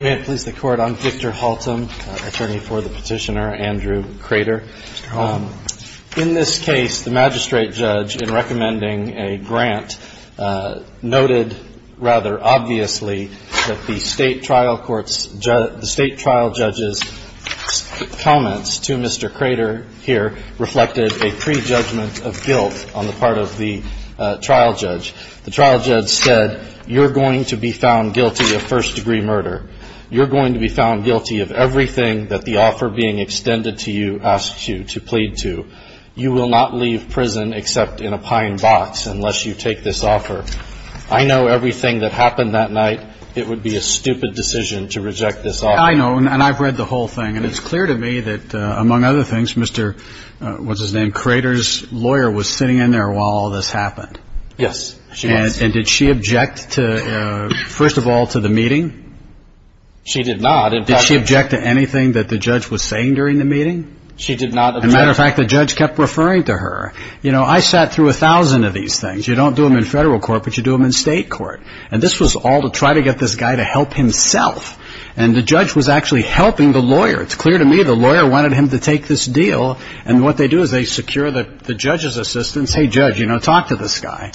May it please the Court, I'm Victor Haltam, attorney for the petitioner Andrew Crater. In this case, the magistrate judge, in recommending a grant, noted rather obviously that the state trial court's, the state trial judge's comments to Mr. Crater here reflected a pre-judgment of guilt on the part of the trial judge. The trial judge said, you're going to be found guilty of first-degree murder. You're going to be found guilty of everything that the offer being extended to you asks you to plead to. You will not leave prison except in a pine box unless you take this offer. I know everything that happened that night. It would be a stupid decision to reject this offer. I know, and I've read the whole thing, and it's clear to me that, among other things, Mr., what's his name, Crater's lawyer was sitting in there while all this happened. Yes, she was. And did she object to, first of all, to the meeting? She did not. Did she object to anything that the judge was saying during the meeting? She did not object. As a matter of fact, the judge kept referring to her. You know, I sat through a thousand of these things. You don't do them in federal court, but you do them in state court. And this was all to try to get this guy to help himself, and the judge was actually helping the lawyer. It's clear to me the lawyer wanted him to take this deal, and what they do is they secure the judge's assistance. Hey, judge, you know, talk to this guy.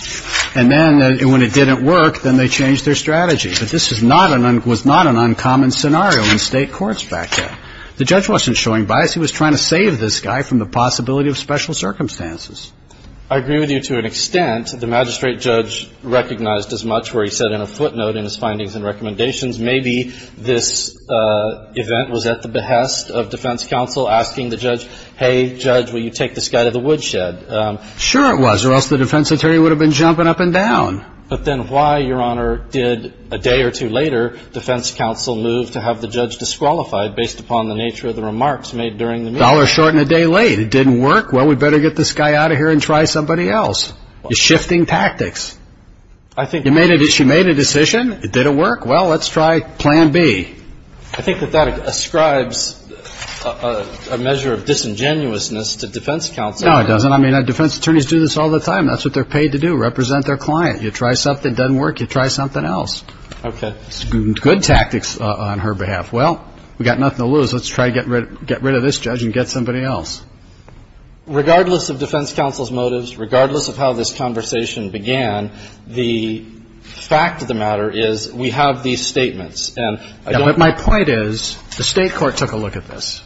And then when it didn't work, then they changed their strategy. But this was not an uncommon scenario in state courts back then. The judge wasn't showing bias. He was trying to save this guy from the possibility of special circumstances. I agree with you to an extent. The magistrate judge recognized as much where he said in a footnote in his findings and recommendations, maybe this event was at the behest of defense counsel asking the judge, hey, judge, will you take this guy to the woodshed? Sure it was, or else the defense attorney would have been jumping up and down. But then why, Your Honor, did a day or two later defense counsel move to have the judge disqualified based upon the nature of the remarks made during the meeting? A dollar short and a day late. It didn't work? Well, we better get this guy out of here and try somebody else. You're shifting tactics. I think that's true. You made a decision? It didn't work? Well, let's try plan B. I think that that ascribes a measure of disingenuousness to defense counsel. No, it doesn't. I mean, defense attorneys do this all the time. That's what they're paid to do, represent their client. You try something that doesn't work, you try something else. Okay. It's good tactics on her behalf. Well, we've got nothing to lose. Let's try to get rid of this judge and get somebody else. Regardless of defense counsel's motives, regardless of how this conversation began, the fact of the matter is we have these statements. But my point is the State court took a look at this.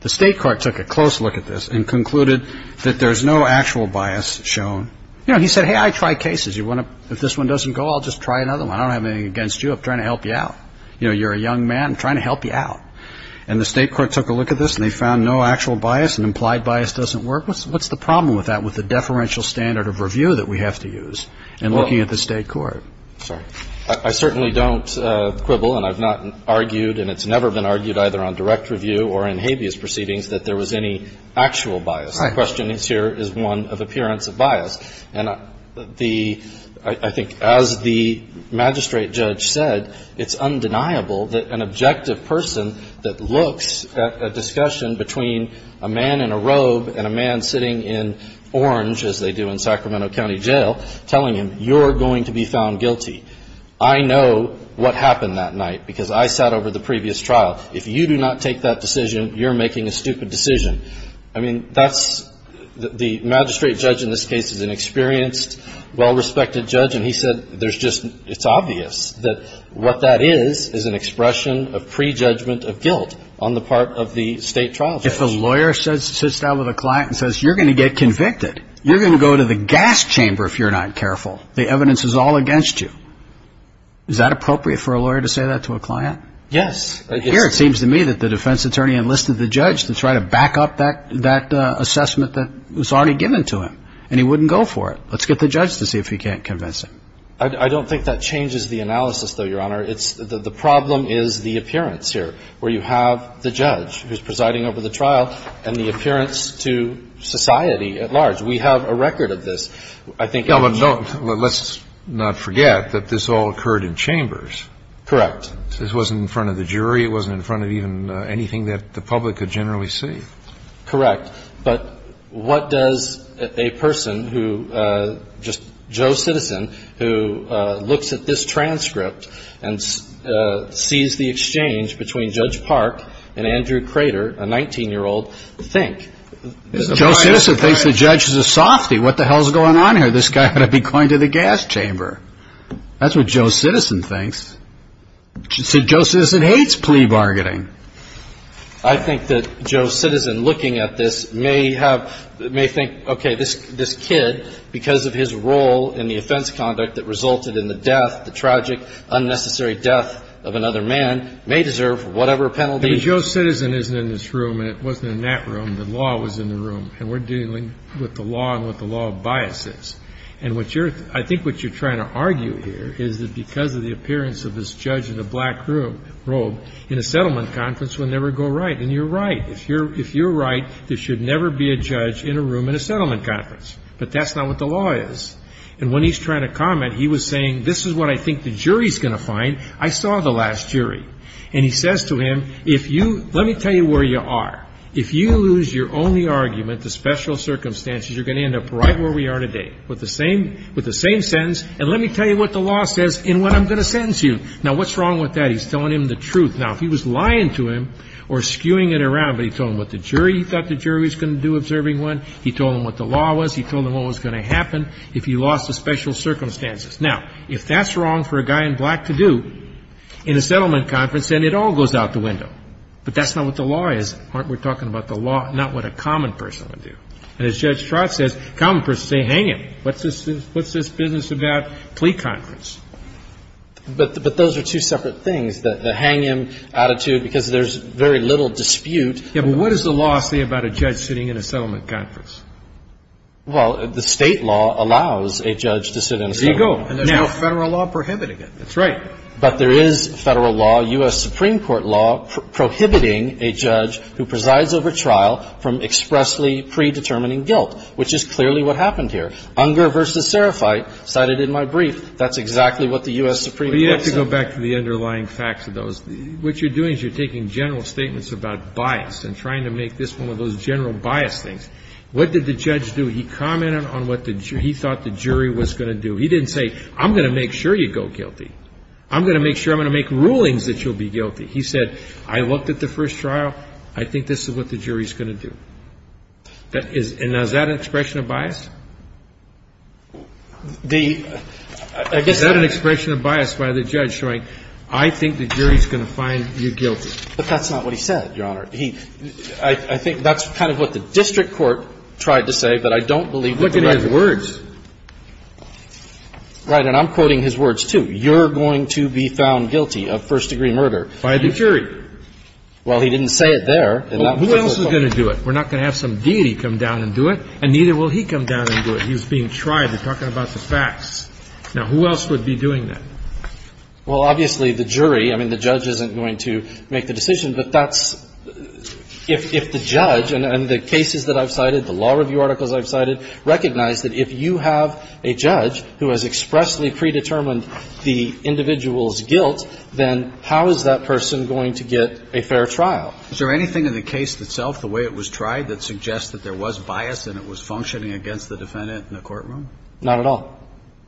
The State court took a close look at this and concluded that there's no actual bias shown. He said, hey, I try cases. If this one doesn't go, I'll just try another one. I don't have anything against you. I'm trying to help you out. You're a young man. I'm trying to help you out. And the State court took a look at this and they found no actual bias and implied bias doesn't work. What's the problem with that, with the deferential standard of review that we have to use in looking at the State court? I certainly don't quibble and I've not argued and it's never been argued either on direct review or in habeas proceedings that there was any actual bias. The question here is one of appearance of bias. And the – I think as the magistrate judge said, it's undeniable that an objective person that looks at a discussion between a man in a robe and a man sitting in orange, as they do in Sacramento County Jail, telling him you're going to be found guilty. I know what happened that night because I sat over the previous trial. If you do not take that decision, you're making a stupid decision. I mean, that's – the magistrate judge in this case is an experienced, well-respected judge and he said there's just – it's obvious that what that is is an expression of prejudgment of guilt on the part of the State trial judge. If a lawyer sits down with a client and says you're going to get convicted, you're going to go to the gas chamber if you're not careful. The evidence is all against you. Is that appropriate for a lawyer to say that to a client? Yes. Here it seems to me that the defense attorney enlisted the judge to try to back up that assessment that was already given to him. And he wouldn't go for it. Let's get the judge to see if he can't convince him. I don't think that changes the analysis, though, Your Honor. The problem is the appearance here where you have the judge who's presiding over the trial and the appearance to society at large. We have a record of this. Let's not forget that this all occurred in chambers. Correct. This wasn't in front of the jury. It wasn't in front of even anything that the public could generally see. Correct. But what does a person who – just Joe Citizen who looks at this transcript and sees the exchange between Judge Park and Andrew Crater, a 19-year-old, think? Joe Citizen thinks the judge is a softy. What the hell is going on here? This guy ought to be going to the gas chamber. That's what Joe Citizen thinks. See, Joe Citizen hates plea bargaining. I think that Joe Citizen, looking at this, may think, okay, this kid, because of his role in the offense conduct that resulted in the death, the tragic, unnecessary death of another man, may deserve whatever penalty. But Joe Citizen isn't in this room and it wasn't in that room. The law was in the room. And we're dealing with the law and what the law of bias is. And what you're – I think what you're trying to argue here is that because of the appearance of this judge in a black robe in a settlement conference will never go right. And you're right. If you're right, there should never be a judge in a room in a settlement conference. But that's not what the law is. And when he's trying to comment, he was saying, this is what I think the jury's going to find. I saw the last jury. And he says to him, if you – let me tell you where you are. If you lose your only argument, the special circumstances, you're going to end up right where we are today with the same sentence. And let me tell you what the law says and what I'm going to sentence you. Now, what's wrong with that? He's telling him the truth. Now, if he was lying to him or skewing it around, but he told him what the jury – he thought the jury was going to do observing one, he told him what the law was, he told him what was going to happen if he lost the special circumstances. Now, if that's wrong for a guy in black to do in a settlement conference, then it all goes out the window. But that's not what the law is. Mark, we're talking about the law, not what a common person would do. And as Judge Trott says, common persons say, hang him. What's this business about plea conference? But those are two separate things, the hang him attitude, because there's very little dispute. Yeah, but what does the law say about a judge sitting in a settlement conference? Well, the State law allows a judge to sit in a settlement conference. There you go. And there's no Federal law prohibiting it. That's right. But there is Federal law, U.S. Supreme Court law prohibiting a judge who presides over trial from expressly predetermining guilt, which is clearly what happened here. Unger v. Serafite, cited in my brief, that's exactly what the U.S. Supreme Court said. But you have to go back to the underlying facts of those. What you're doing is you're taking general statements about bias and trying to make this one of those general bias things. What did the judge do? He commented on what he thought the jury was going to do. He didn't say, I'm going to make sure you go guilty. I'm going to make sure I'm going to make rulings that you'll be guilty. He said, I looked at the first trial. I think this is what the jury is going to do. And is that an expression of bias? Is that an expression of bias by the judge showing, I think the jury is going to find you guilty? But that's not what he said, Your Honor. He – I think that's kind of what the district court tried to say, but I don't believe what the judge said. Right. And I'm quoting his words, too. You're going to be found guilty of first-degree murder. By the jury. Well, he didn't say it there. Who else is going to do it? We're not going to have some deity come down and do it, and neither will he come down and do it. He was being tried. They're talking about the facts. Now, who else would be doing that? Well, obviously, the jury. I mean, the judge isn't going to make the decision, but that's – if the judge and the cases that I've cited, the law review articles I've cited, recognize that if you have a judge who has expressly predetermined the individual's guilt, then how is that person going to get a fair trial? Is there anything in the case itself, the way it was tried, that suggests that there was bias and it was functioning against the defendant in the courtroom? Not at all.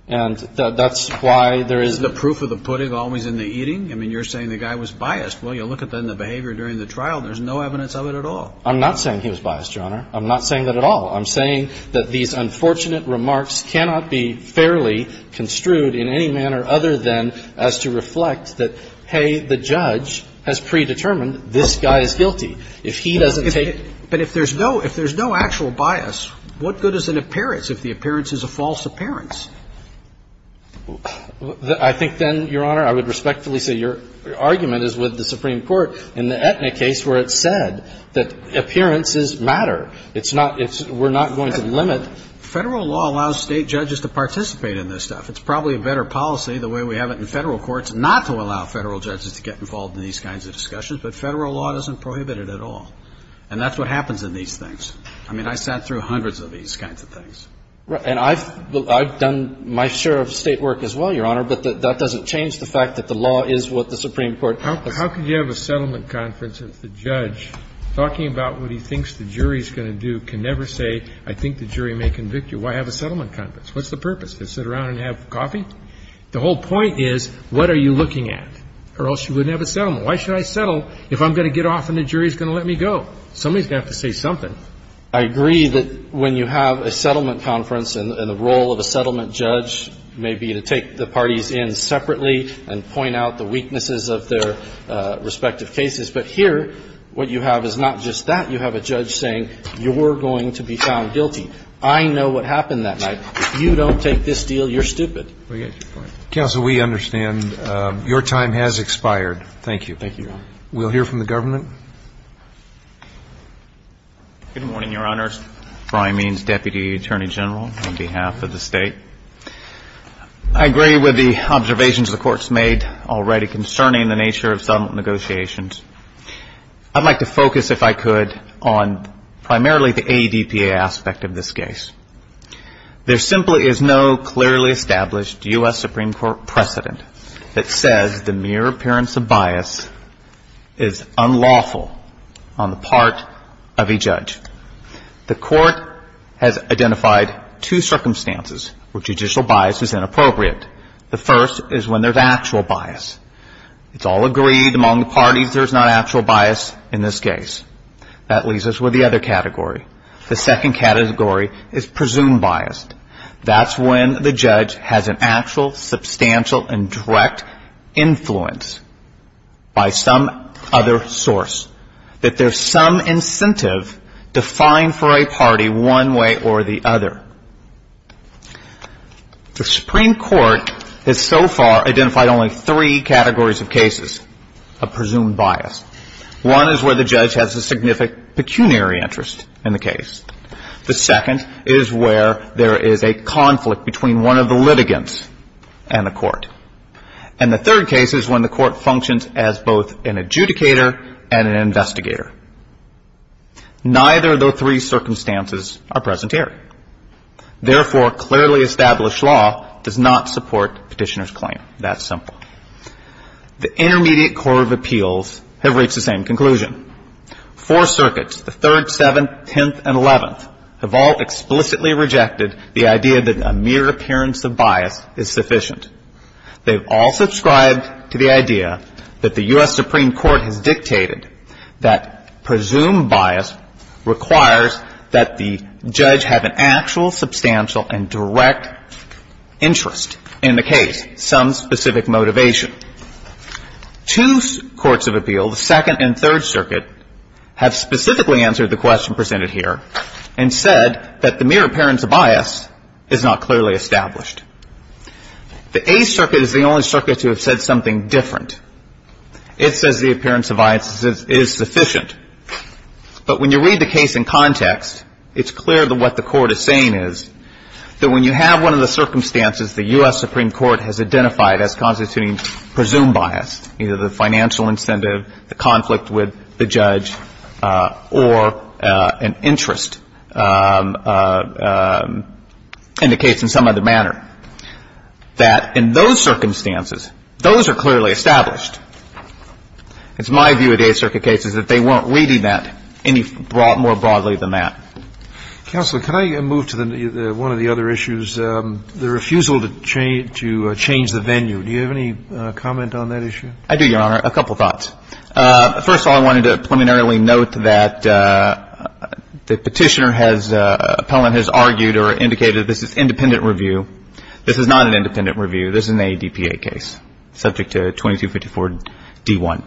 And that's why there is – Isn't the proof of the pudding always in the eating? I mean, you're saying the guy was biased. Well, you look at then the behavior during the trial, there's no evidence of it at all. I'm not saying he was biased, Your Honor. I'm not saying that at all. I'm saying that these unfortunate remarks cannot be fairly construed in any manner other than as to reflect that, hey, the judge has predetermined this guy is guilty. If he doesn't take – But if there's no – if there's no actual bias, what good is an appearance if the appearance is a false appearance? I think then, Your Honor, I would respectfully say your argument is with the Supreme Court in the Etna case where it said that appearances matter. It's not – we're not going to limit – Federal law allows State judges to participate in this stuff. It's probably a better policy the way we have it in Federal courts not to allow Federal judges to get involved in these kinds of discussions, but Federal law doesn't prohibit it at all. And that's what happens in these things. I mean, I sat through hundreds of these kinds of things. And I've done my share of State work as well, Your Honor, but that doesn't change the fact that the law is what the Supreme Court – How can you have a settlement conference if the judge, talking about what he thinks the jury is going to do, can never say, I think the jury may convict you? Why have a settlement conference? What's the purpose? To sit around and have coffee? The whole point is, what are you looking at? Or else you wouldn't have a settlement. Why should I settle if I'm going to get off and the jury is going to let me go? Somebody is going to have to say something. I agree that when you have a settlement conference and the role of a settlement judge may be to take the parties in separately and point out the weaknesses of their respective cases. But here, what you have is not just that. You have a judge saying, you're going to be found guilty. I know what happened that night. If you don't take this deal, you're stupid. We get your point. Counsel, we understand your time has expired. Thank you. Thank you, Your Honor. We'll hear from the government. Good morning, Your Honors. Brian Means, Deputy Attorney General on behalf of the state. I agree with the observations the Court's made already concerning the nature of settlement negotiations. I'd like to focus, if I could, on primarily the ADPA aspect of this case. There simply is no clearly established U.S. Supreme Court precedent that says the mere appearance of bias is unlawful on the part of a judge. The Court has identified two circumstances where judicial bias is inappropriate. The first is when there's actual bias. It's all agreed among the parties there's not actual bias in this case. That leaves us with the other category. The second category is presumed biased. That's when the judge has an actual, substantial, and direct influence by some other source. That there's some incentive defined for a party one way or the other. The Supreme Court has so far identified only three categories of cases of presumed bias. One is where the judge has a significant pecuniary interest in the case. The second is where there is a conflict between one of the litigants and the Court. And the third case is when the Court functions as both an adjudicator and an investigator. Neither of those three circumstances are present here. Therefore, clearly established law does not support Petitioner's claim. That simple. The Intermediate Court of Appeals have reached the same conclusion. Four circuits, the Third, Seventh, Tenth, and Eleventh, have all explicitly rejected the idea that a mere appearance of bias is sufficient. They've all subscribed to the idea that the U.S. Supreme Court has dictated that presumed bias requires that the judge have an actual, substantial, and direct interest in the case, some specific motivation. Two courts of appeals, the Second and Third Circuit, have specifically answered the question presented here and said that the mere appearance of bias is not clearly established. The Eighth Circuit is the only circuit to have said something different. It says the appearance of bias is sufficient. But when you read the case in context, it's clear that what the Court is saying is that when you have one of the circumstances the U.S. Supreme Court has said that there is a presumed bias, either the financial incentive, the conflict with the judge, or an interest indicates in some other manner, that in those circumstances, those are clearly established. It's my view at Eighth Circuit cases that they weren't reading that any more broadly than that. Counsel, can I move to one of the other issues, the refusal to change the venue? Do you have any comment on that issue? I do, Your Honor. A couple thoughts. First of all, I wanted to preliminarily note that the Petitioner has argued or indicated this is independent review. This is not an independent review. This is an ADPA case subject to 2254d1.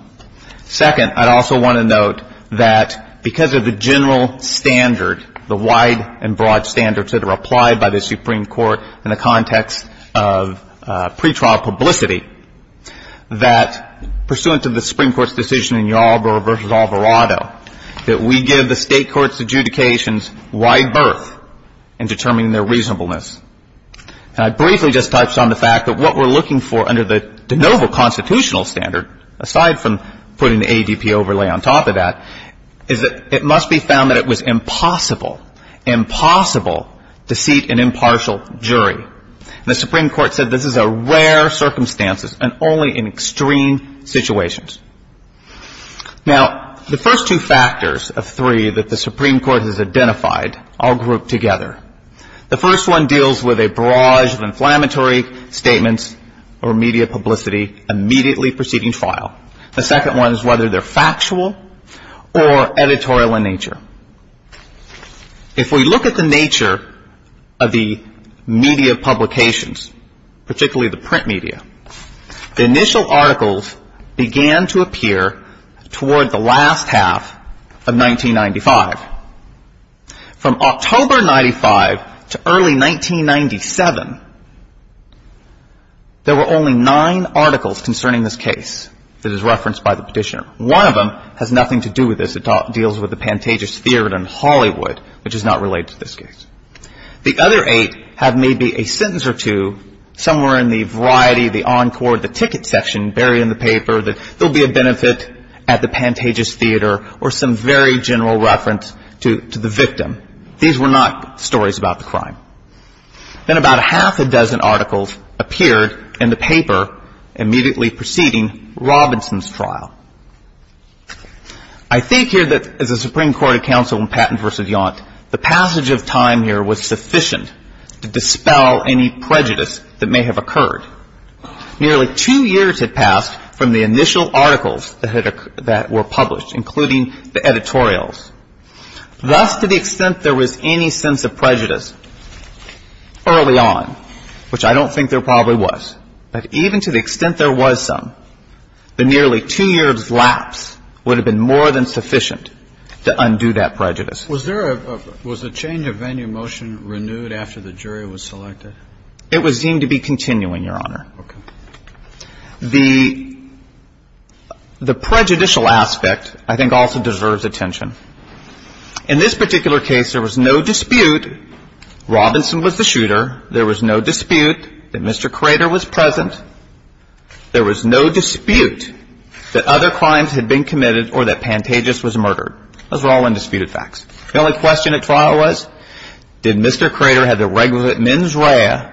Second, I'd also want to note that because of the general standard, the wide and broad standards that are applied by the Supreme Court in the context of pretrial publicity, that pursuant to the Supreme Court's decision in Yarbrough v. Alvarado, that we give the State courts' adjudications wide berth in determining their reasonableness. And I briefly just touched on the fact that what we're looking for under the de novo constitutional standard, aside from putting the ADP overlay on top of that, is that it must be found that it was impossible, impossible to seat an impartial jury. And the Supreme Court said this is a rare circumstance and only in extreme situations. Now, the first two factors of three that the Supreme Court has identified are grouped together. The first one deals with a barrage of inflammatory statements or media publicity immediately preceding file. The second one is whether they're factual or editorial in nature. If we look at the nature of the media publications, particularly the print media, the initial articles began to appear toward the last half of 1995. From October 1995 to early 1997, there were only nine articles concerning this case that is referenced by the petitioner. One of them has nothing to do with this. It deals with the Pantages Theater in Hollywood, which is not related to this case. The other eight have maybe a sentence or two somewhere in the variety, the encore, the ticket section buried in the paper that there will be a benefit at the Pantages Theater or some very general reference to the victim. These were not stories about the crime. Then about a half a dozen articles appeared in the paper immediately preceding Robinson's trial. I think here that as a Supreme Court counsel in Patton v. Yaunt, the passage of time here was sufficient to dispel any prejudice that may have occurred. Nearly two years had passed from the initial articles that were published, including the editorials. Thus, to the extent there was any sense of prejudice early on, which I don't think there probably was, but even to the extent there was some, the nearly two years' lapse would have been more than sufficient to undo that prejudice. Was there a – was the change of venue motion renewed after the jury was selected? It was deemed to be continuing, Your Honor. Okay. The prejudicial aspect I think also deserves attention. In this particular case, there was no dispute Robinson was the shooter. There was no dispute that Mr. Crater was present. There was no dispute that other crimes had been committed or that Pantages was murdered. Those were all undisputed facts. The only question at trial was, did Mr. Crater have the regulative mens rea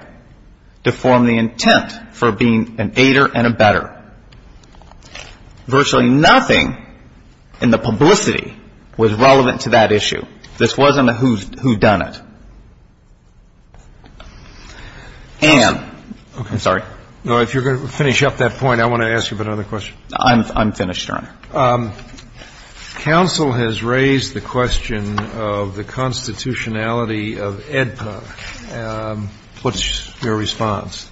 to form the intent for being an aider and a better? Virtually nothing in the publicity was relevant to that issue. This wasn't a whodunit. And – I'm sorry. No, if you're going to finish up that point, I want to ask you about another question. I'm finished, Your Honor. Counsel has raised the question of the constitutionality of AEDPA. What's your response?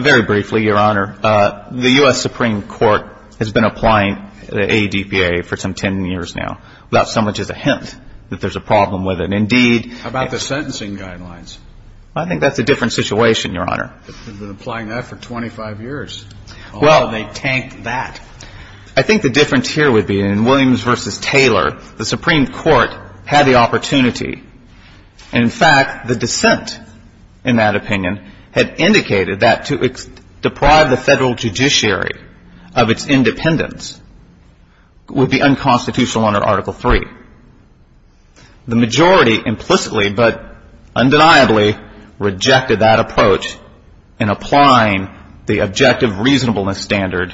Very briefly, Your Honor. The U.S. Supreme Court has been applying the ADPA for some 10 years now without so much as a hint that there's a problem with it. And indeed – How about the sentencing guidelines? I think that's a different situation, Your Honor. They've been applying that for 25 years. Well – Oh, they tank that. I think the difference here would be in Williams v. Taylor, the Supreme Court had the opportunity. In fact, the dissent in that opinion had indicated that to deprive the federal judiciary of its independence would be unconstitutional under Article III. The majority implicitly but undeniably rejected that approach in applying the objective reasonableness standard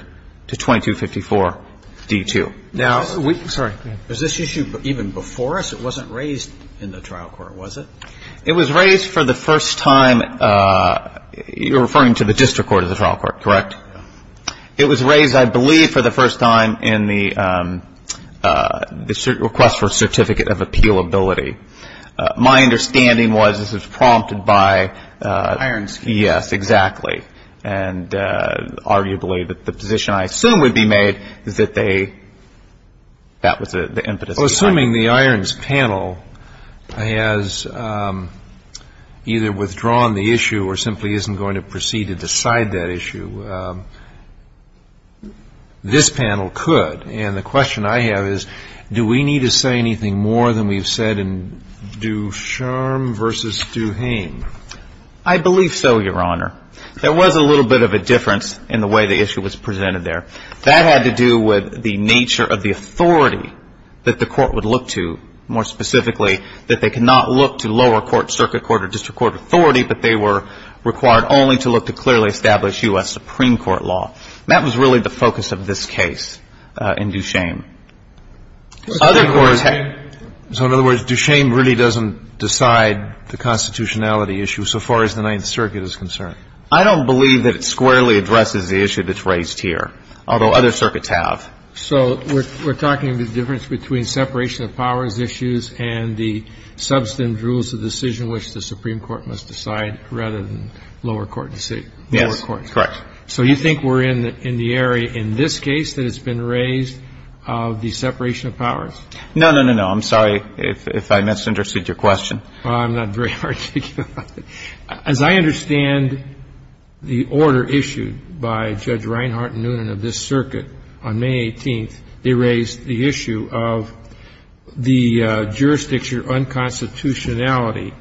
to 2254 D.2. Now – Sorry. Was this issue even before us? It wasn't raised in the trial court, was it? It was raised for the first time – you're referring to the district court of the trial court, correct? It was raised, I believe, for the first time in the request for a certificate of appealability. My understanding was this was prompted by – Irons. Yes, exactly. And arguably the position I assume would be made is that they – that was the impetus behind it. Assuming the Irons panel has either withdrawn the issue or simply isn't going to proceed to decide that issue, this panel could. And the question I have is do we need to say anything more than we've said in Ducharme v. Duhame? I believe so, Your Honor. There was a little bit of a difference in the way the issue was presented there. That had to do with the nature of the authority that the court would look to, more specifically, that they could not look to lower court, circuit court, or district court authority, but they were required only to look to clearly establish U.S. Supreme Court law. That was really the focus of this case in Ducharme. Other courts had – So in other words, Ducharme really doesn't decide the constitutionality issue so far as the Ninth Circuit is concerned? I don't believe that it squarely addresses the issue that's raised here. Although other circuits have. So we're talking the difference between separation of powers issues and the substantive rules of decision which the Supreme Court must decide rather than lower court. Yes, correct. So you think we're in the area in this case that has been raised of the separation of powers? No, no, no, no. I'm sorry if I misunderstood your question. I'm not very articulate. As I understand the order issued by Judge Reinhart and Noonan of this circuit on May 18th, they raised the issue of the jurisdiction unconstitutionality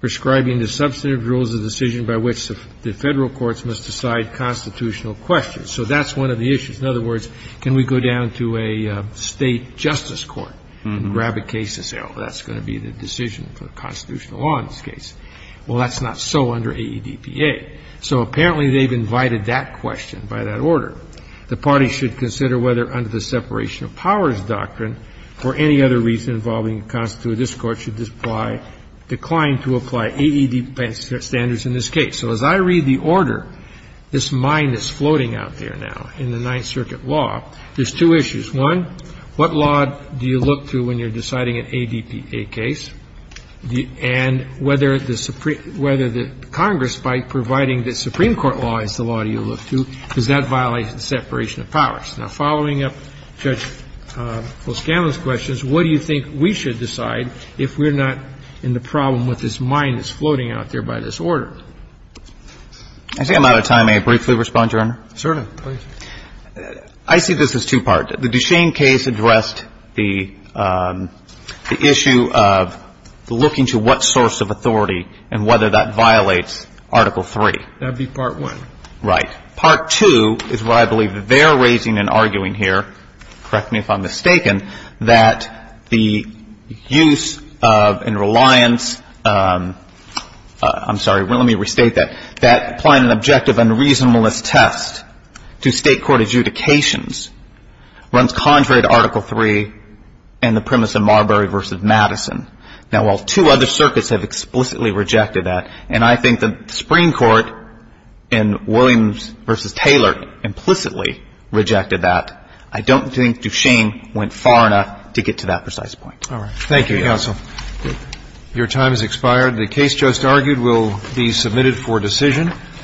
prescribing the substantive rules of decision by which the Federal courts must decide constitutional questions. So that's one of the issues. In other words, can we go down to a State justice court and grab a case and say, well, that's going to be the decision for the constitutional law in this case? Well, that's not so under AEDPA. So apparently they've invited that question by that order. The parties should consider whether under the separation of powers doctrine for any other reason involving the constitutive discourse should apply, decline to apply AEDPA standards in this case. So as I read the order, this mind is floating out there now in the Ninth Circuit law. There's two issues. One, what law do you look to when you're deciding an AEDPA case? And whether the Congress, by providing that Supreme Court law is the law you look to, does that violate the separation of powers? Now, following up Judge Loscano's questions, what do you think we should decide if we're not in the problem with this mind that's floating out there by this order? I think I'm out of time. May I briefly respond, Your Honor? Certainly. I see this as two-part. The Duchene case addressed the issue of looking to what source of authority and whether that violates Article 3. That would be Part 1. Right. Part 2 is where I believe they're raising and arguing here, correct me if I'm mistaken, that the use of and reliance – I'm sorry, let me restate that – that applying an objective and reasonableness test to State court adjudications runs contrary to Article 3 and the premise of Marbury v. Madison. Now, while two other circuits have explicitly rejected that, and I think that the Supreme Court in Williams v. Taylor implicitly rejected that, I don't think Duchene went far enough to get to that precise point. All right. Thank you, counsel. Your time has expired. The case just argued will be submitted for decision.